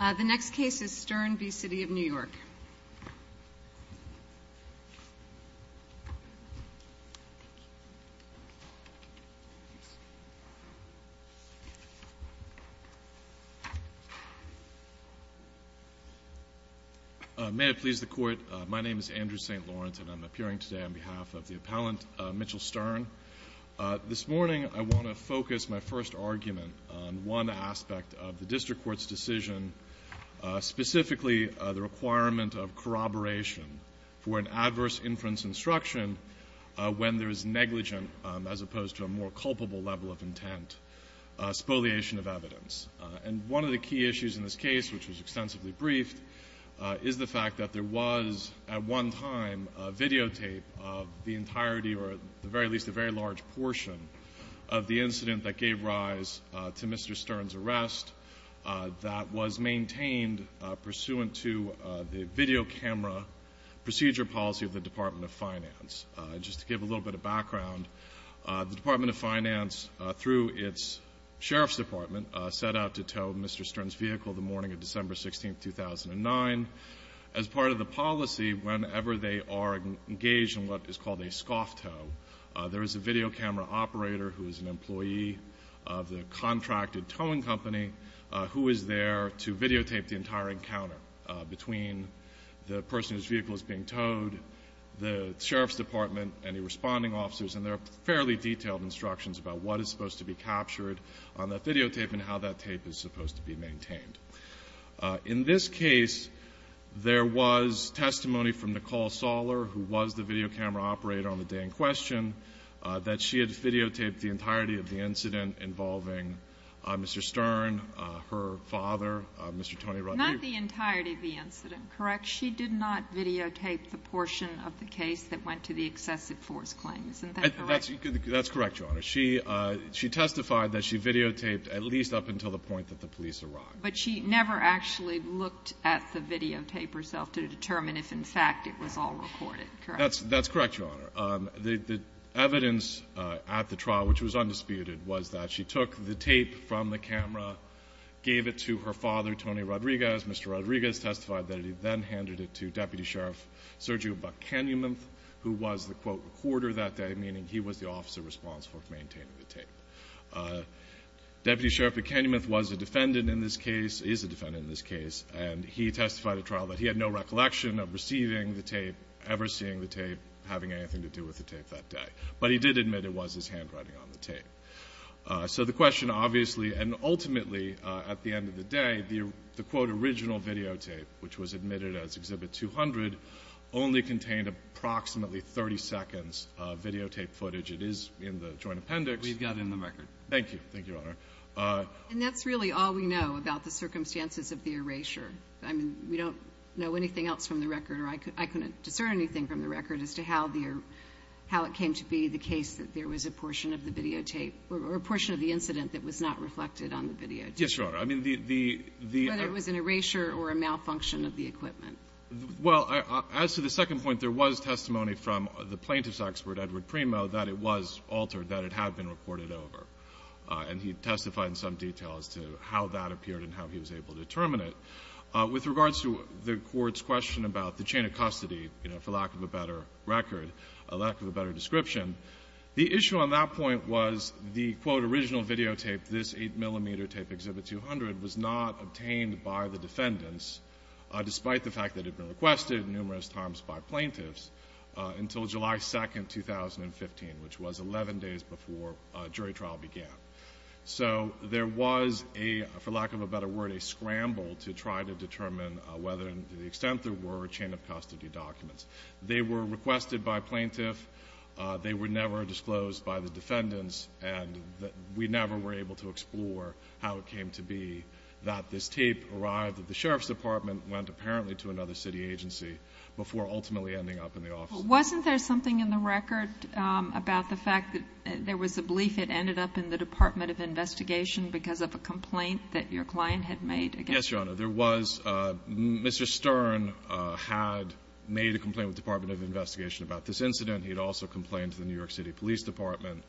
The next case is Stern v. City of New York. May it please the Court, my name is Andrew St. Lawrence and I'm appearing today on behalf of the appellant Mitchell Stern. This morning I want to specifically the requirement of corroboration for an adverse inference instruction when there is negligent, as opposed to a more culpable level of intent, spoliation of evidence. And one of the key issues in this case, which was extensively briefed, is the fact that there was at one time a videotape of the entirety, or at the very least a very large portion, of the incident that gave rise to Mr. Stern's arrest that was maintained pursuant to the video camera procedure policy of the Department of Finance. Just to give a little bit of background, the Department of Finance, through its Sheriff's Department, set out to tow Mr. Stern's vehicle the morning of December 16, 2009. As part of the policy, whenever they are engaged in what is called a scoff tow, there is a video camera operator who is an employee of the contracted towing company who is there to videotape the entire encounter between the person whose vehicle is being towed, the Sheriff's Department, any responding officers, and there are fairly detailed instructions about what is supposed to be captured on that videotape and how that tape is supposed to be maintained. In this case, there was testimony from She had videotaped the entirety of the incident involving Mr. Stern, her father, Mr. Tony Rodriguez. Not the entirety of the incident, correct? She did not videotape the portion of the case that went to the excessive force claim, isn't that correct? That's correct, Your Honor. She testified that she videotaped at least up until the point that the police arrived. But she never actually looked at the videotape herself to determine if, in fact, it was all recorded, correct? That's correct, Your Honor. The evidence at the trial, which was undisputed, was that she took the tape from the camera, gave it to her father, Tony Rodriguez. Mr. Rodriguez testified that he then handed it to Deputy Sheriff Sergio Buchanum, who was the, quote, recorder that day, meaning he was the officer responsible for maintaining the tape. Deputy Sheriff Buchanum was a defendant in this case, is a defendant in this case, and he testified at trial that he had no recollection of receiving the tape, ever seeing the tape, having anything to do with the tape that day. But he did admit it was his handwriting on the tape. So the question, obviously, and ultimately, at the end of the day, the, quote, original videotape, which was admitted as Exhibit 200, only contained approximately 30 seconds of videotape footage. It is in the joint appendix. We've got it in the record. Thank you. Thank you, Your Honor. And that's really all we know about the circumstances of the erasure. I mean, we don't know anything else from the record, or I couldn't discern anything from the record, as to how it came to be the case that there was a portion of the videotape, or a portion of the incident that was not reflected on the videotape. Yes, Your Honor. I mean, the – Whether it was an erasure or a malfunction of the equipment. Well, as to the second point, there was testimony from the plaintiff's expert, Edward And he testified in some detail as to how that appeared and how he was able to determine it. With regards to the Court's question about the chain of custody, you know, for lack of a better record, a lack of a better description, the issue on that point was the, quote, original videotape, this 8-millimeter tape, Exhibit 200, was not obtained by the defendants, despite the fact that it had been requested numerous times by plaintiffs, until July 2, 2015, which was 11 days before jury trial began. So there was a, for lack of a better word, a scramble to try to determine whether, to the extent there were, chain of custody documents. They were requested by plaintiffs. They were never disclosed by the defendants. And we never were able to explore how it came to be that this tape arrived at the Sheriff's Department and went, apparently, to another city agency, before ultimately ending up in the office. Wasn't there something in the record about the fact that there was a belief it ended up in the Department of Investigation because of a complaint that your client had made against you? Yes, Your Honor. There was. Mr. Stern had made a complaint with the Department of Investigation about this incident. He had also complained to the New York City Police Department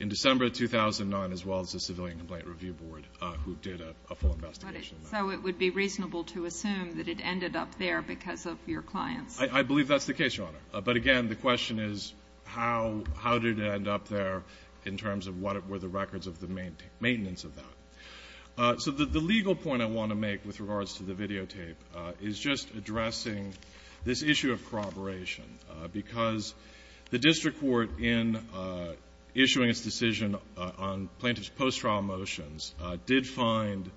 in December 2009, as well as the Civilian Complaint Review Board, who did a full investigation. complaint? I believe that's the case, Your Honor. But again, the question is, how did it end up there in terms of what were the records of the maintenance of that? So the legal point I want to make with regards to the videotape is just addressing this issue of corroboration, because the district court, in issuing its decision on plaintiff's post-trial motions, did find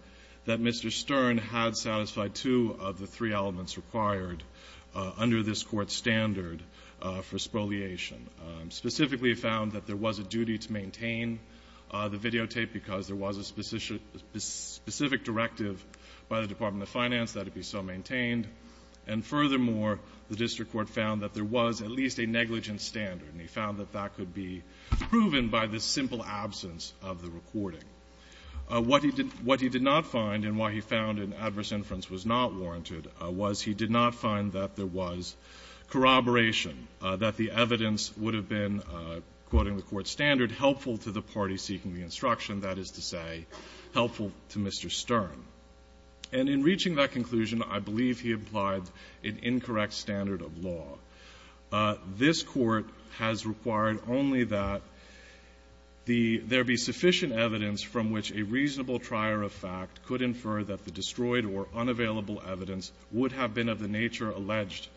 that Mr. Stern had satisfied two of the three elements required under this Court's standard for spoliation. Specifically it found that there was a duty to maintain the videotape because there was a specific directive by the Department of Finance that it be so maintained. And furthermore, the district court found that there was at least a negligent standard, and he found that that could be proven by the simple absence of the recording. What he did not find and why he found an adverse inference was not warranted was he did not find that there was corroboration, that the evidence would have been, quoting the Court's standard, helpful to the party seeking the instruction, that is to say, helpful to Mr. Stern. And in reaching that conclusion, I believe he implied an incorrect standard of law. This Court has required only that the — there be sufficient evidence from which a reasonable trier of fact could infer that the destroyed or unavailable evidence would have been of the nature alleged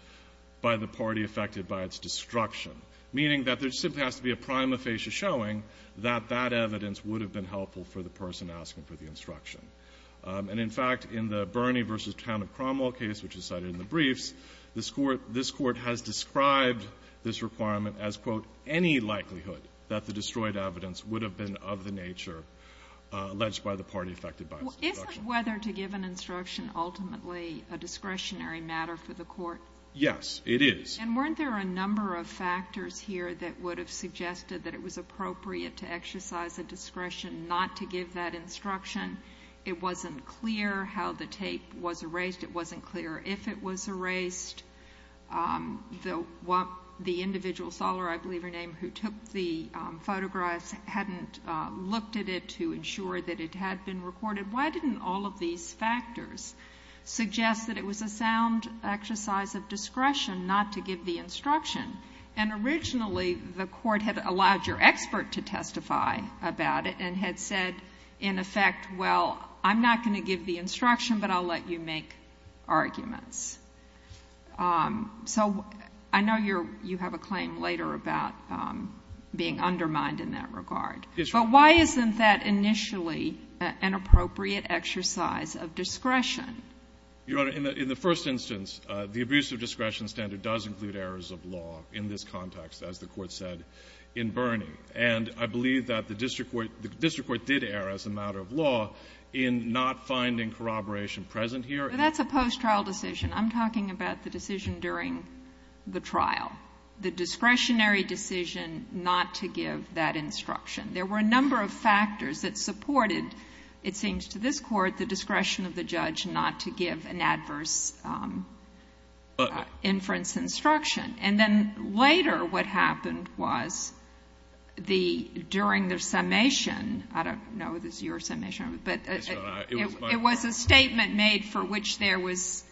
by the party affected by its destruction, meaning that there simply has to be a prima facie showing that that evidence would have been helpful for the person asking for the instruction. And in fact, in the Bernie v. Town of Cromwell case, which is cited in the briefs, this Court has described this requirement as, quote, any likelihood that the destroyed evidence would have been of the nature alleged by the party affected by its destruction. Is it whether to give an instruction ultimately a discretionary matter for the Court? Yes, it is. And weren't there a number of factors here that would have suggested that it was appropriate to exercise a discretion not to give that instruction? It wasn't clear how the tape was erased. It wasn't clear if it was erased. The individual, Soller, I believe her name, who took the photographs hadn't looked at it to ensure that it had been recorded. Why didn't all of these factors suggest that it was a sound exercise of discretion not to give the instruction? And originally, the Court had allowed your expert to testify about it and had said, in effect, well, I'm not going to give the instruction, but I'll let you make arguments. So I know you have a claim later about being undermined in that regard. Yes, Your Honor. But why isn't that initially an appropriate exercise of discretion? Your Honor, in the first instance, the abuse of discretion standard does include errors of law in this context, as the Court said in Burning. And I believe that the district court did err as a matter of law in not finding corroboration present here. But that's a post-trial decision. I'm talking about the decision during the trial, the discretionary decision not to give that instruction. There were a number of factors that supported, it seems to this Court, the discretion of the judge not to give an adverse inference instruction. And then later what happened was the — during the summation, I don't know if this is your summation, but it was a statement made for which there was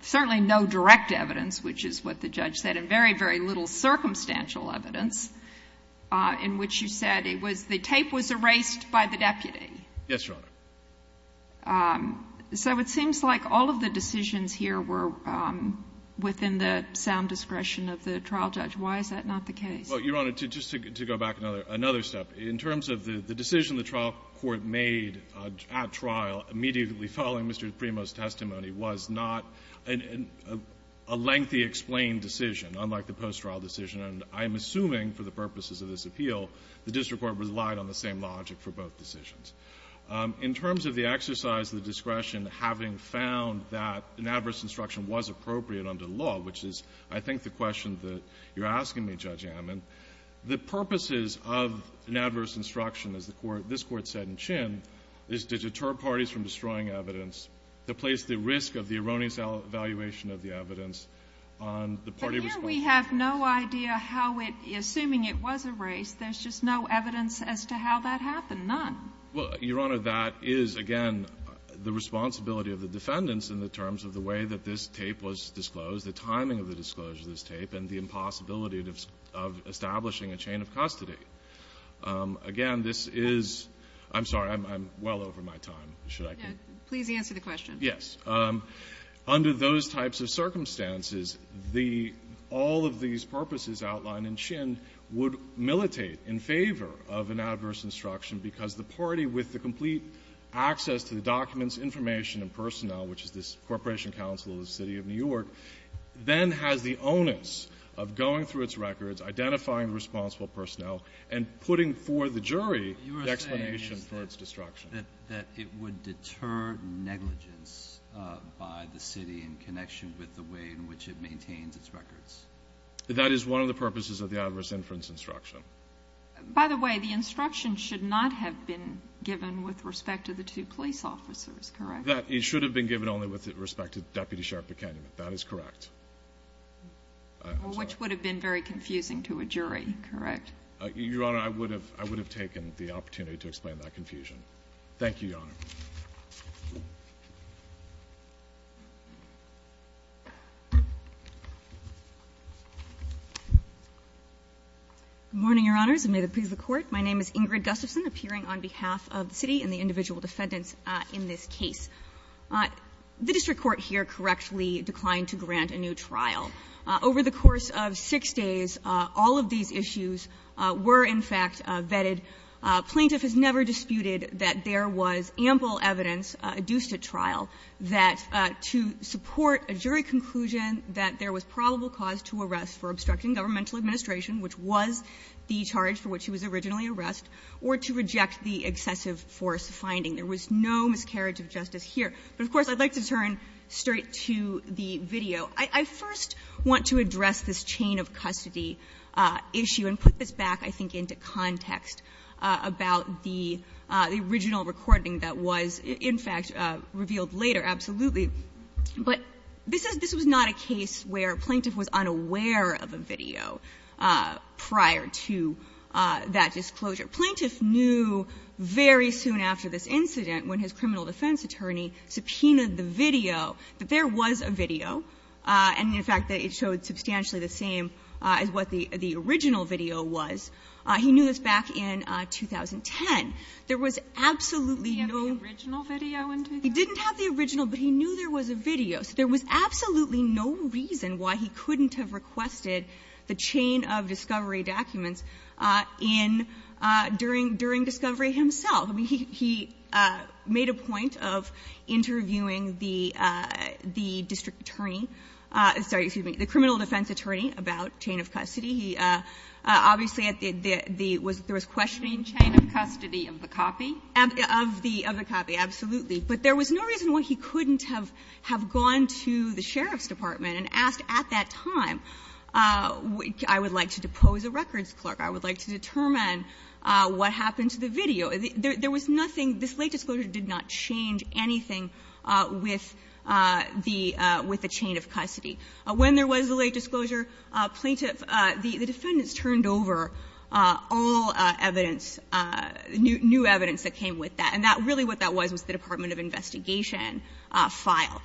certainly no direct evidence, which is what the judge said, and very, very little circumstantial evidence in which you said it was — the tape was erased by the deputy. Yes, Your Honor. So it seems like all of the decisions here were within the sound discretion of the trial judge. Why is that not the case? Well, Your Honor, just to go back another step, in terms of the decision the trial court made at trial immediately following Mr. Primo's testimony was not a decision a lengthy explained decision, unlike the post-trial decision. And I'm assuming, for the purposes of this appeal, the district court relied on the same logic for both decisions. In terms of the exercise of the discretion, having found that an adverse instruction was appropriate under the law, which is, I think, the question that you're asking me, Judge Amman, the purposes of an adverse instruction, as the Court — this Court said in Chin, is to deter parties from destroying evidence, to place the risk of the testimony's evaluation of the evidence on the party responsible. But here we have no idea how it — assuming it was erased, there's just no evidence as to how that happened, none. Well, Your Honor, that is, again, the responsibility of the defendants in the terms of the way that this tape was disclosed, the timing of the disclosure of this tape, and the impossibility of establishing a chain of custody. Again, this is — I'm sorry, I'm well over my time. Should I continue? Please answer the question. Yes. Under those types of circumstances, the — all of these purposes outlined in Chin would militate in favor of an adverse instruction because the party, with the complete access to the documents, information, and personnel, which is this Corporation Council of the City of New York, then has the onus of going through its records, identifying the responsible personnel, and putting for the jury the explanation for its destruction. That it would deter negligence by the city in connection with the way in which it maintains its records. That is one of the purposes of the adverse inference instruction. By the way, the instruction should not have been given with respect to the two police officers, correct? That — it should have been given only with respect to Deputy Sheriff McKenna. That is correct. I'm sorry. Which would have been very confusing to a jury, correct? Your Honor, I would have — I would have taken the opportunity to explain that confusion. Thank you, Your Honor. Good morning, Your Honors, and may it please the Court. My name is Ingrid Gustafson, appearing on behalf of the City and the individual defendants in this case. The district court here correctly declined to grant a new trial. Over the course of six days, all of these issues were, in fact, vetted. Plaintiff has never disputed that there was ample evidence adduced at trial that to support a jury conclusion that there was probable cause to arrest for obstructing governmental administration, which was the charge for which he was originally arrest, or to reject the excessive force finding. There was no miscarriage of justice here. But, of course, I'd like to turn straight to the video. I first want to address this chain of custody issue and put this back, I think, into context about the original recording that was, in fact, revealed later, absolutely. But this was not a case where a plaintiff was unaware of a video prior to that disclosure. Plaintiff knew very soon after this incident, when his criminal defense attorney subpoenaed the video, that there was a video, and, in fact, that it showed substantially the same as what the original video was. He knew this back in 2010. There was absolutely no – He didn't have the original video in 2010? He didn't have the original, but he knew there was a video. So there was absolutely no reason why he couldn't have requested the chain of discovery documents in – during discovery himself. I mean, he made a point of interviewing the district attorney – sorry, excuse me, the criminal defense attorney about chain of custody. He obviously at the – there was questioning chain of custody of the copy? Of the copy, absolutely. But there was no reason why he couldn't have gone to the sheriff's department and asked at that time, I would like to depose a records clerk, I would like to determine what happened to the video. There was nothing – this late disclosure did not change anything with the chain of custody. When there was a late disclosure, plaintiff – the defendants turned over all evidence, new evidence that came with that. And that – really what that was was the Department of Investigation file.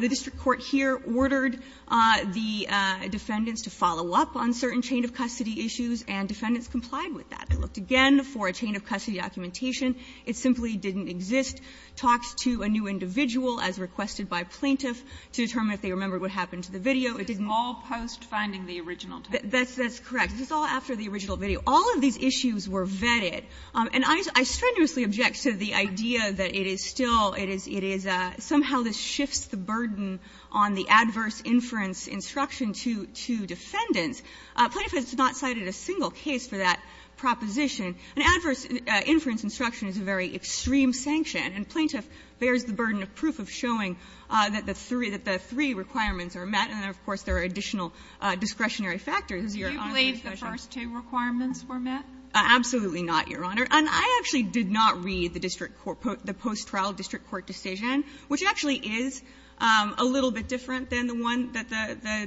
The district court here ordered the defendants to follow up on certain chain of custody issues, and defendants complied with that. They looked again for a chain of custody documentation. It simply didn't exist. Talks to a new individual as requested by plaintiff to determine if they remembered what happened to the video. It didn't. But this is all post-finding the original tape? That's correct. This is all after the original video. All of these issues were vetted. And I strenuously object to the idea that it is still – it is – it is somehow this shifts the burden on the adverse inference instruction to defendants. Plaintiff has not cited a single case for that proposition. An adverse inference instruction is a very extreme sanction, and plaintiff bears the burden of proof of showing that the three – that the three requirements are met, and, of course, there are additional discretionary factors. Do you believe the first two requirements were met? Absolutely not, Your Honor. And I actually did not read the district court – the post-trial district court decision, which actually is a little bit different than the one that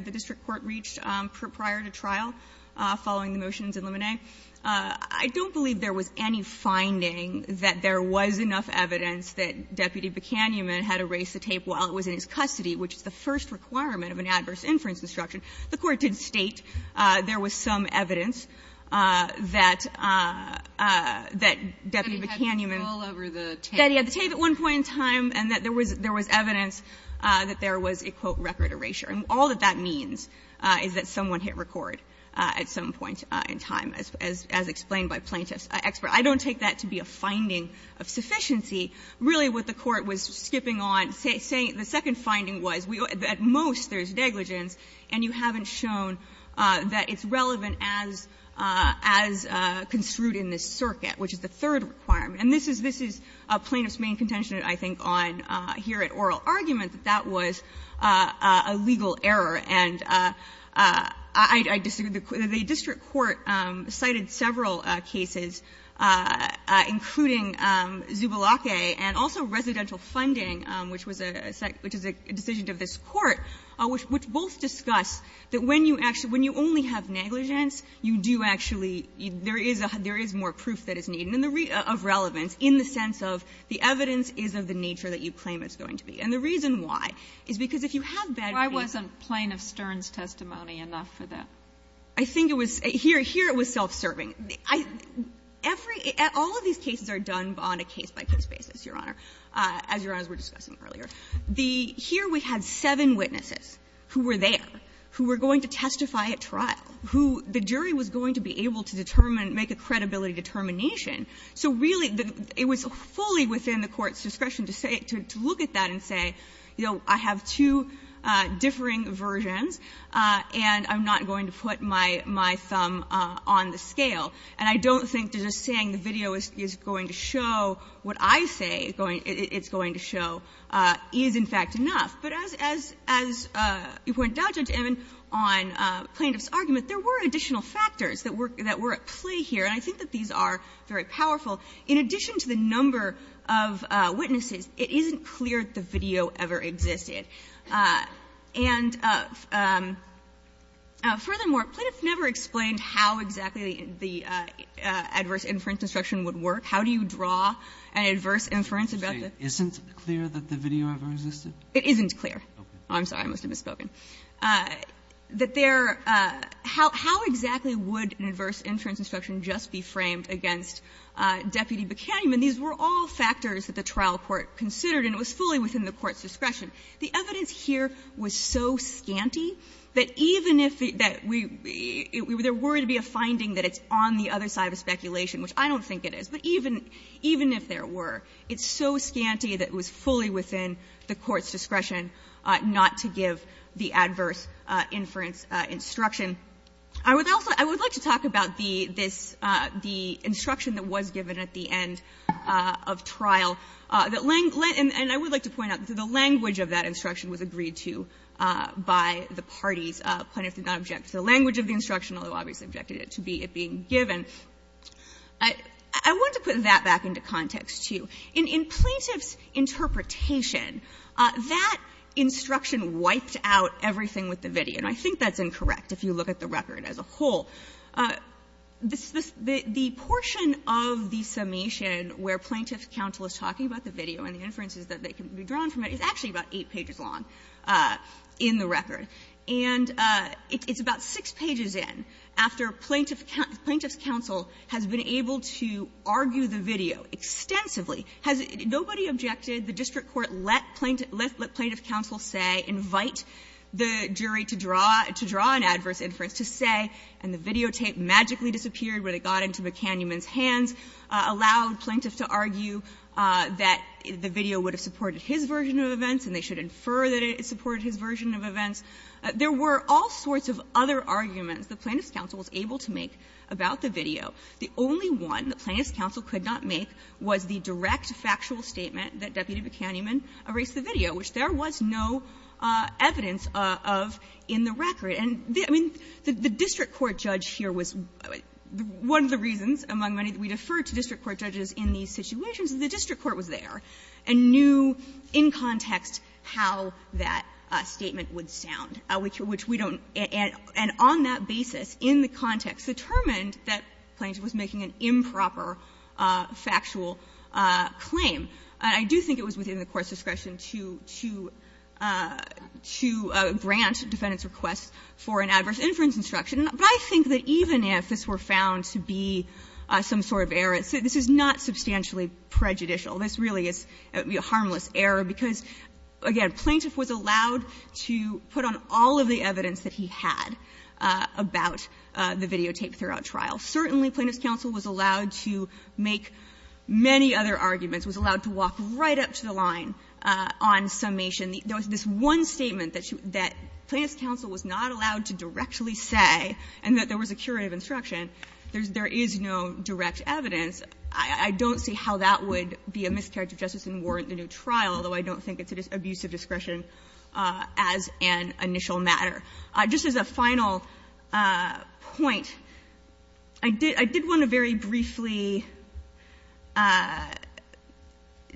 the district court reached prior to trial, following the motions in Lemonet. I don't believe there was any finding that there was enough evidence that Deputy Buchanian had erased the tape while it was in his custody, which is the first requirement of an adverse inference instruction. The Court did state there was some evidence that – that Deputy Buchanian had the tape at one point in time, and that there was evidence that there was a, quote, record erasure. And all that that means is that someone hit record at some point in time, as explained by plaintiff's expert. I don't take that to be a finding of sufficiency. Really what the Court was skipping on, saying the second finding was at most there's negligence, and you haven't shown that it's relevant as construed in this circuit, which is the third requirement. And this is – this is plaintiff's main contention, I think, on here at oral argument, that that was a legal error. And I disagree. The district court cited several cases, including Zubalake, and also residential funding, which was a – which is a decision of this court, which both discuss that when you actually – when you only have negligence, you do actually – there is more proof that is needed of relevance in the sense of the evidence is of the nature that you claim it's going to be. And the reason why is because if you have bad reading of evidence of negligence you have to have a good reading of Stern's testimony enough for that. I think it was – here it was self-serving. Every – all of these cases are done on a case-by-case basis, Your Honor, as Your Honor was discussing earlier. The – here we had seven witnesses who were there, who were going to testify at trial, who the jury was going to be able to determine, make a credibility determination. So really, it was fully within the Court's discretion to say – to look at that and say, you know, I have two differing versions, and I'm not going to put my – my thumb on the scale. And I don't think that just saying the video is going to show what I say it's going – it's going to show is, in fact, enough. But as – as you pointed out, Judge Emmen, on plaintiff's argument, there were additional factors that were – that were at play here. And I think that these are very powerful. In addition to the number of witnesses, it isn't clear that the video ever existed. And furthermore, plaintiff never explained how exactly the adverse inference instruction would work. How do you draw an adverse inference about the – Kagan, isn't it clear that the video ever existed? It isn't clear. I'm sorry. I must have misspoken. That there – how exactly would an adverse inference instruction just be framed against Deputy Buchanan? I mean, these were all factors that the trial court considered, and it was fully within the Court's discretion. The evidence here was so scanty that even if it – that we – there were to be a finding that it's on the other side of the speculation, which I don't think it is, but even – even if there were, it's so scanty that it was fully within the Court's discretion not to give the adverse inference instruction. I would also – I would like to talk about the – this – the instruction that was given at the end of trial that – and I would like to point out that the language of that instruction was agreed to by the parties. Plaintiff did not object to the language of the instruction, although obviously objected to it being given. I want to put that back into context, too. In plaintiff's interpretation, that instruction wiped out everything with the video. And I think that's incorrect, if you look at the record as a whole. This – the portion of the summation where Plaintiff's counsel is talking about the video and the inferences that can be drawn from it is actually about eight pages long in the record. And it's about six pages in after Plaintiff's counsel has been able to argue the video extensively. Has it – nobody objected? The District Court let Plaintiff – let Plaintiff's counsel say, invite the jury to draw – to draw an adverse inference to say, and the videotape magically disappeared when it got into McCannuman's hands, allowed Plaintiff to argue that the video would have supported his version of events and they should infer that it supported his version of events. There were all sorts of other arguments that Plaintiff's counsel was able to make about the video. The only one that Plaintiff's counsel could not make was the direct factual statement that Deputy McCannuman erased the video, which there was no evidence of in the record. And, I mean, the District Court judge here was – one of the reasons among many that we defer to District Court judges in these situations is the District Court was there and knew in context how that statement would sound, which we don't – and on that basis, in the context, determined that Plaintiff was making an improper factual claim. I do think it was within the Court's discretion to – to – to grant defendants' requests for an adverse inference instruction. But I think that even if this were found to be some sort of error, this is not substantially prejudicial. This really is a harmless error because, again, Plaintiff was allowed to put on all of the evidence that he had about the videotape throughout trial. Certainly, Plaintiff's counsel was allowed to make many other arguments, was allowed to walk right up to the line on summation. There was this one statement that she – that Plaintiff's counsel was not allowed to directly say, and that there was a curative instruction, there's – there is no direct evidence. I don't see how that would be a miscarriage of justice and warrant a new trial, although I don't think it's an abuse of discretion as an initial matter. Just as a final point, I did – I did want to very briefly – I did want to very briefly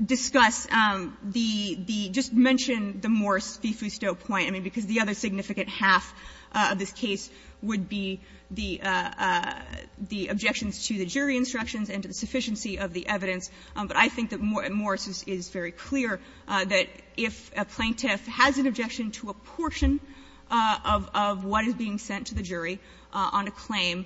discuss the – the – just mention the Morris v. Fousteau point, I mean, because the other significant half of this case would be the objections to the jury instructions and to the sufficiency of the evidence. But I think that Morris is very clear that if a Plaintiff has an objection to a portion of what is being sent to the jury on a claim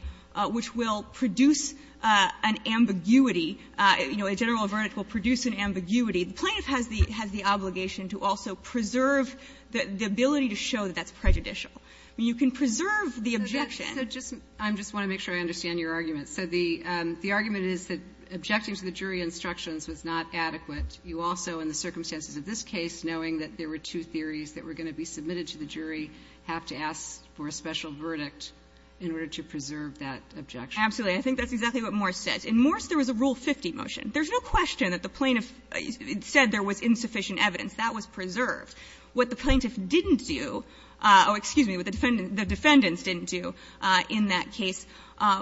which will produce an ambiguity, you know, a general verdict will produce an ambiguity, the Plaintiff has the – has the obligation to also preserve the ability to show that that's prejudicial. I mean, you can preserve the objection. So just – I just want to make sure I understand your argument. So the – the argument is that objecting to the jury instructions was not adequate. You also, in the circumstances of this case, knowing that there were two theories that were going to be submitted to the jury, have to ask for a special verdict in order to preserve that objection. Absolutely. I think that's exactly what Morris said. In Morris, there was a Rule 50 motion. There's no question that the Plaintiff said there was insufficient evidence. That was preserved. What the Plaintiff didn't do – oh, excuse me, what the defendants didn't do in that case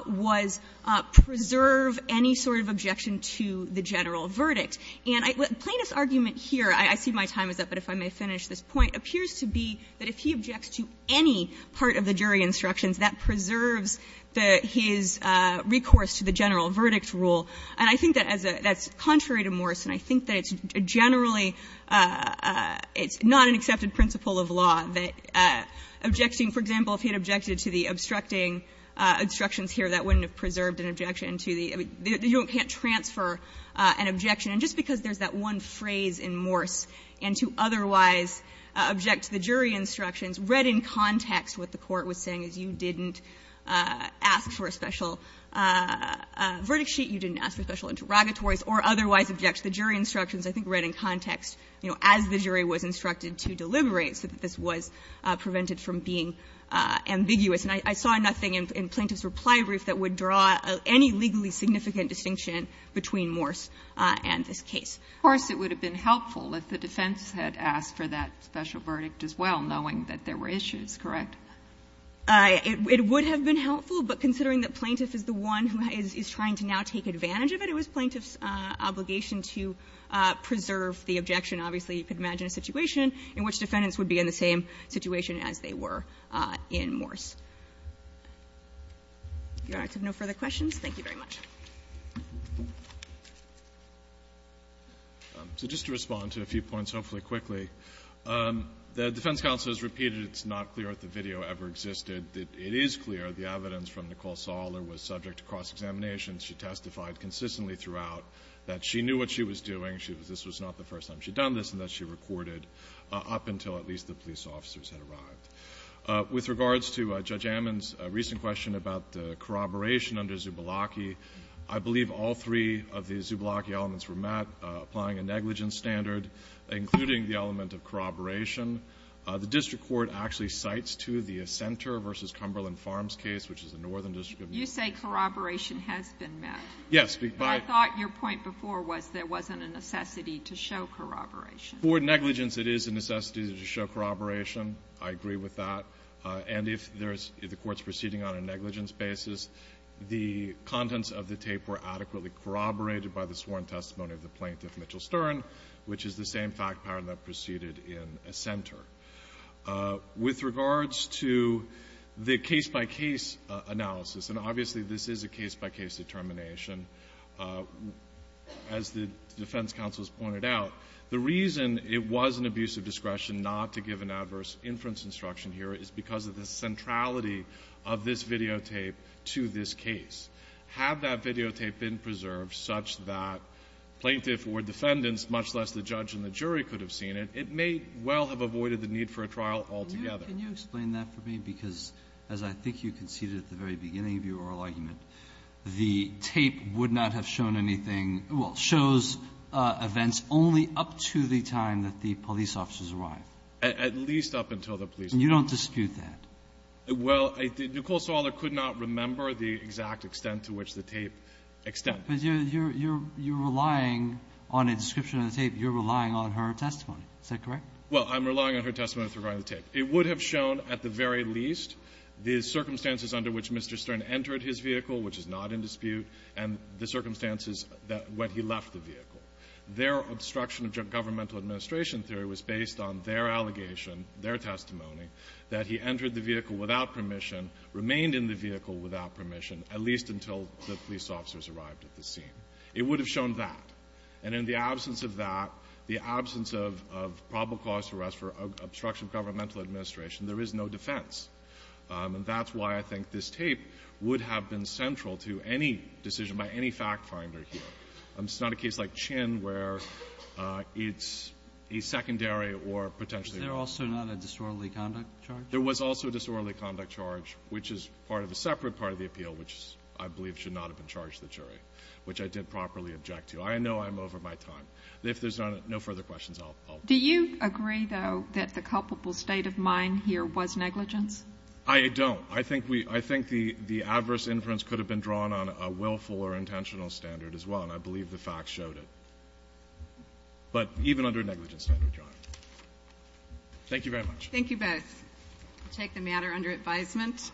was preserve any sort of objection to the general verdict. And I – the Plaintiff's argument here – I see my time is up, but if I may finish this point – appears to be that if he objects to any part of the jury instructions, that preserves the – his recourse to the general verdict rule. And I think that as a – that's contrary to Morris, and I think that it's generally – it's not an accepted principle of law that objecting – for example, if he had objected to the obstructing instructions here, that wouldn't have preserved an objection to the – you can't transfer an objection. And just because there's that one phrase in Morris, and to otherwise object to the you didn't ask for a special verdict sheet, you didn't ask for special interrogatories, or otherwise object to the jury instructions, I think read in context, you know, as the jury was instructed to deliberate, so that this was prevented from being ambiguous. And I saw nothing in Plaintiff's reply brief that would draw any legally significant distinction between Morris and this case. Of course, it would have been helpful if the defense had asked for that special verdict as well, knowing that there were issues, correct? It would have been helpful, but considering that Plaintiff is the one who is trying to now take advantage of it, it was Plaintiff's obligation to preserve the objection. Obviously, you could imagine a situation in which defendants would be in the same situation as they were in Morris. If you don't have no further questions, thank you very much. So just to respond to a few points, hopefully quickly, the defense counsel has repeated it's not clear if the video ever existed. It is clear the evidence from Nicole Sawler was subject to cross-examination. She testified consistently throughout that she knew what she was doing, this was not the first time she'd done this, and that she recorded up until at least the police officers had arrived. With regards to Judge Ammon's recent question about corroboration under Zubalocki, I believe all three of the Zubalocki elements were met, applying a negligence standard, including the element of corroboration. The district court actually cites, too, the Assenter v. Cumberland Farms case, which is the Northern District of New York. You say corroboration has been met. Yes. But I thought your point before was there wasn't a necessity to show corroboration. For negligence, it is a necessity to show corroboration. I agree with that. And if there's the Court's proceeding on a negligence basis, the contents of the tape were adequately corroborated by the sworn testimony of the Plaintiff, Mitchell Stern, which is the same fact pattern that proceeded in Assenter. With regards to the case-by-case analysis, and obviously this is a case-by-case determination, as the defense counsel has pointed out, the reason it was an abuse of discretion not to give an adverse inference instruction here is because of the centrality of this videotape to this case. Had that videotape been preserved such that Plaintiff or defendants, much less the judge and the jury, could have seen it, it may well have avoided the need for a trial altogether. Can you explain that for me? Because as I think you conceded at the very beginning of your oral argument, the tape would not have shown anything – well, shows events only up to the time that the police officers arrived. At least up until the police arrived. And you don't dispute that? Well, Nicole Saller could not remember the exact extent to which the tape extended. But you're relying on a description of the tape. You're relying on her testimony. Is that correct? Well, I'm relying on her testimony with regard to the tape. It would have shown at the very least the circumstances under which Mr. Stern entered his vehicle, which is not in dispute, and the circumstances that – when he left the vehicle. Their obstruction of governmental administration theory was based on their allegation, their testimony, that he entered the vehicle without permission, remained in the vehicle without permission, at least until the police officers arrived at the scene. It would have shown that. And in the absence of that, the absence of probable cause for obstruction of governmental administration, there is no defense. And that's why I think this tape would have been central to any decision by any factfinder here. It's not a case like Chinn where it's a secondary or potentially – Was there also not a disorderly conduct charge? There was also a disorderly conduct charge, which is part of a separate part of the appeal, which I believe should not have been charged to the jury, which I did properly object to. I know I'm over my time. If there's no further questions, I'll – Do you agree, though, that the culpable state of mind here was negligence? I don't. I think we – I think the adverse inference could have been drawn on a willful or intentional standard as well, and I believe the facts showed it. But even under a negligence standard, Your Honor. Thank you very much. Thank you both. I'll take the matter under advisement.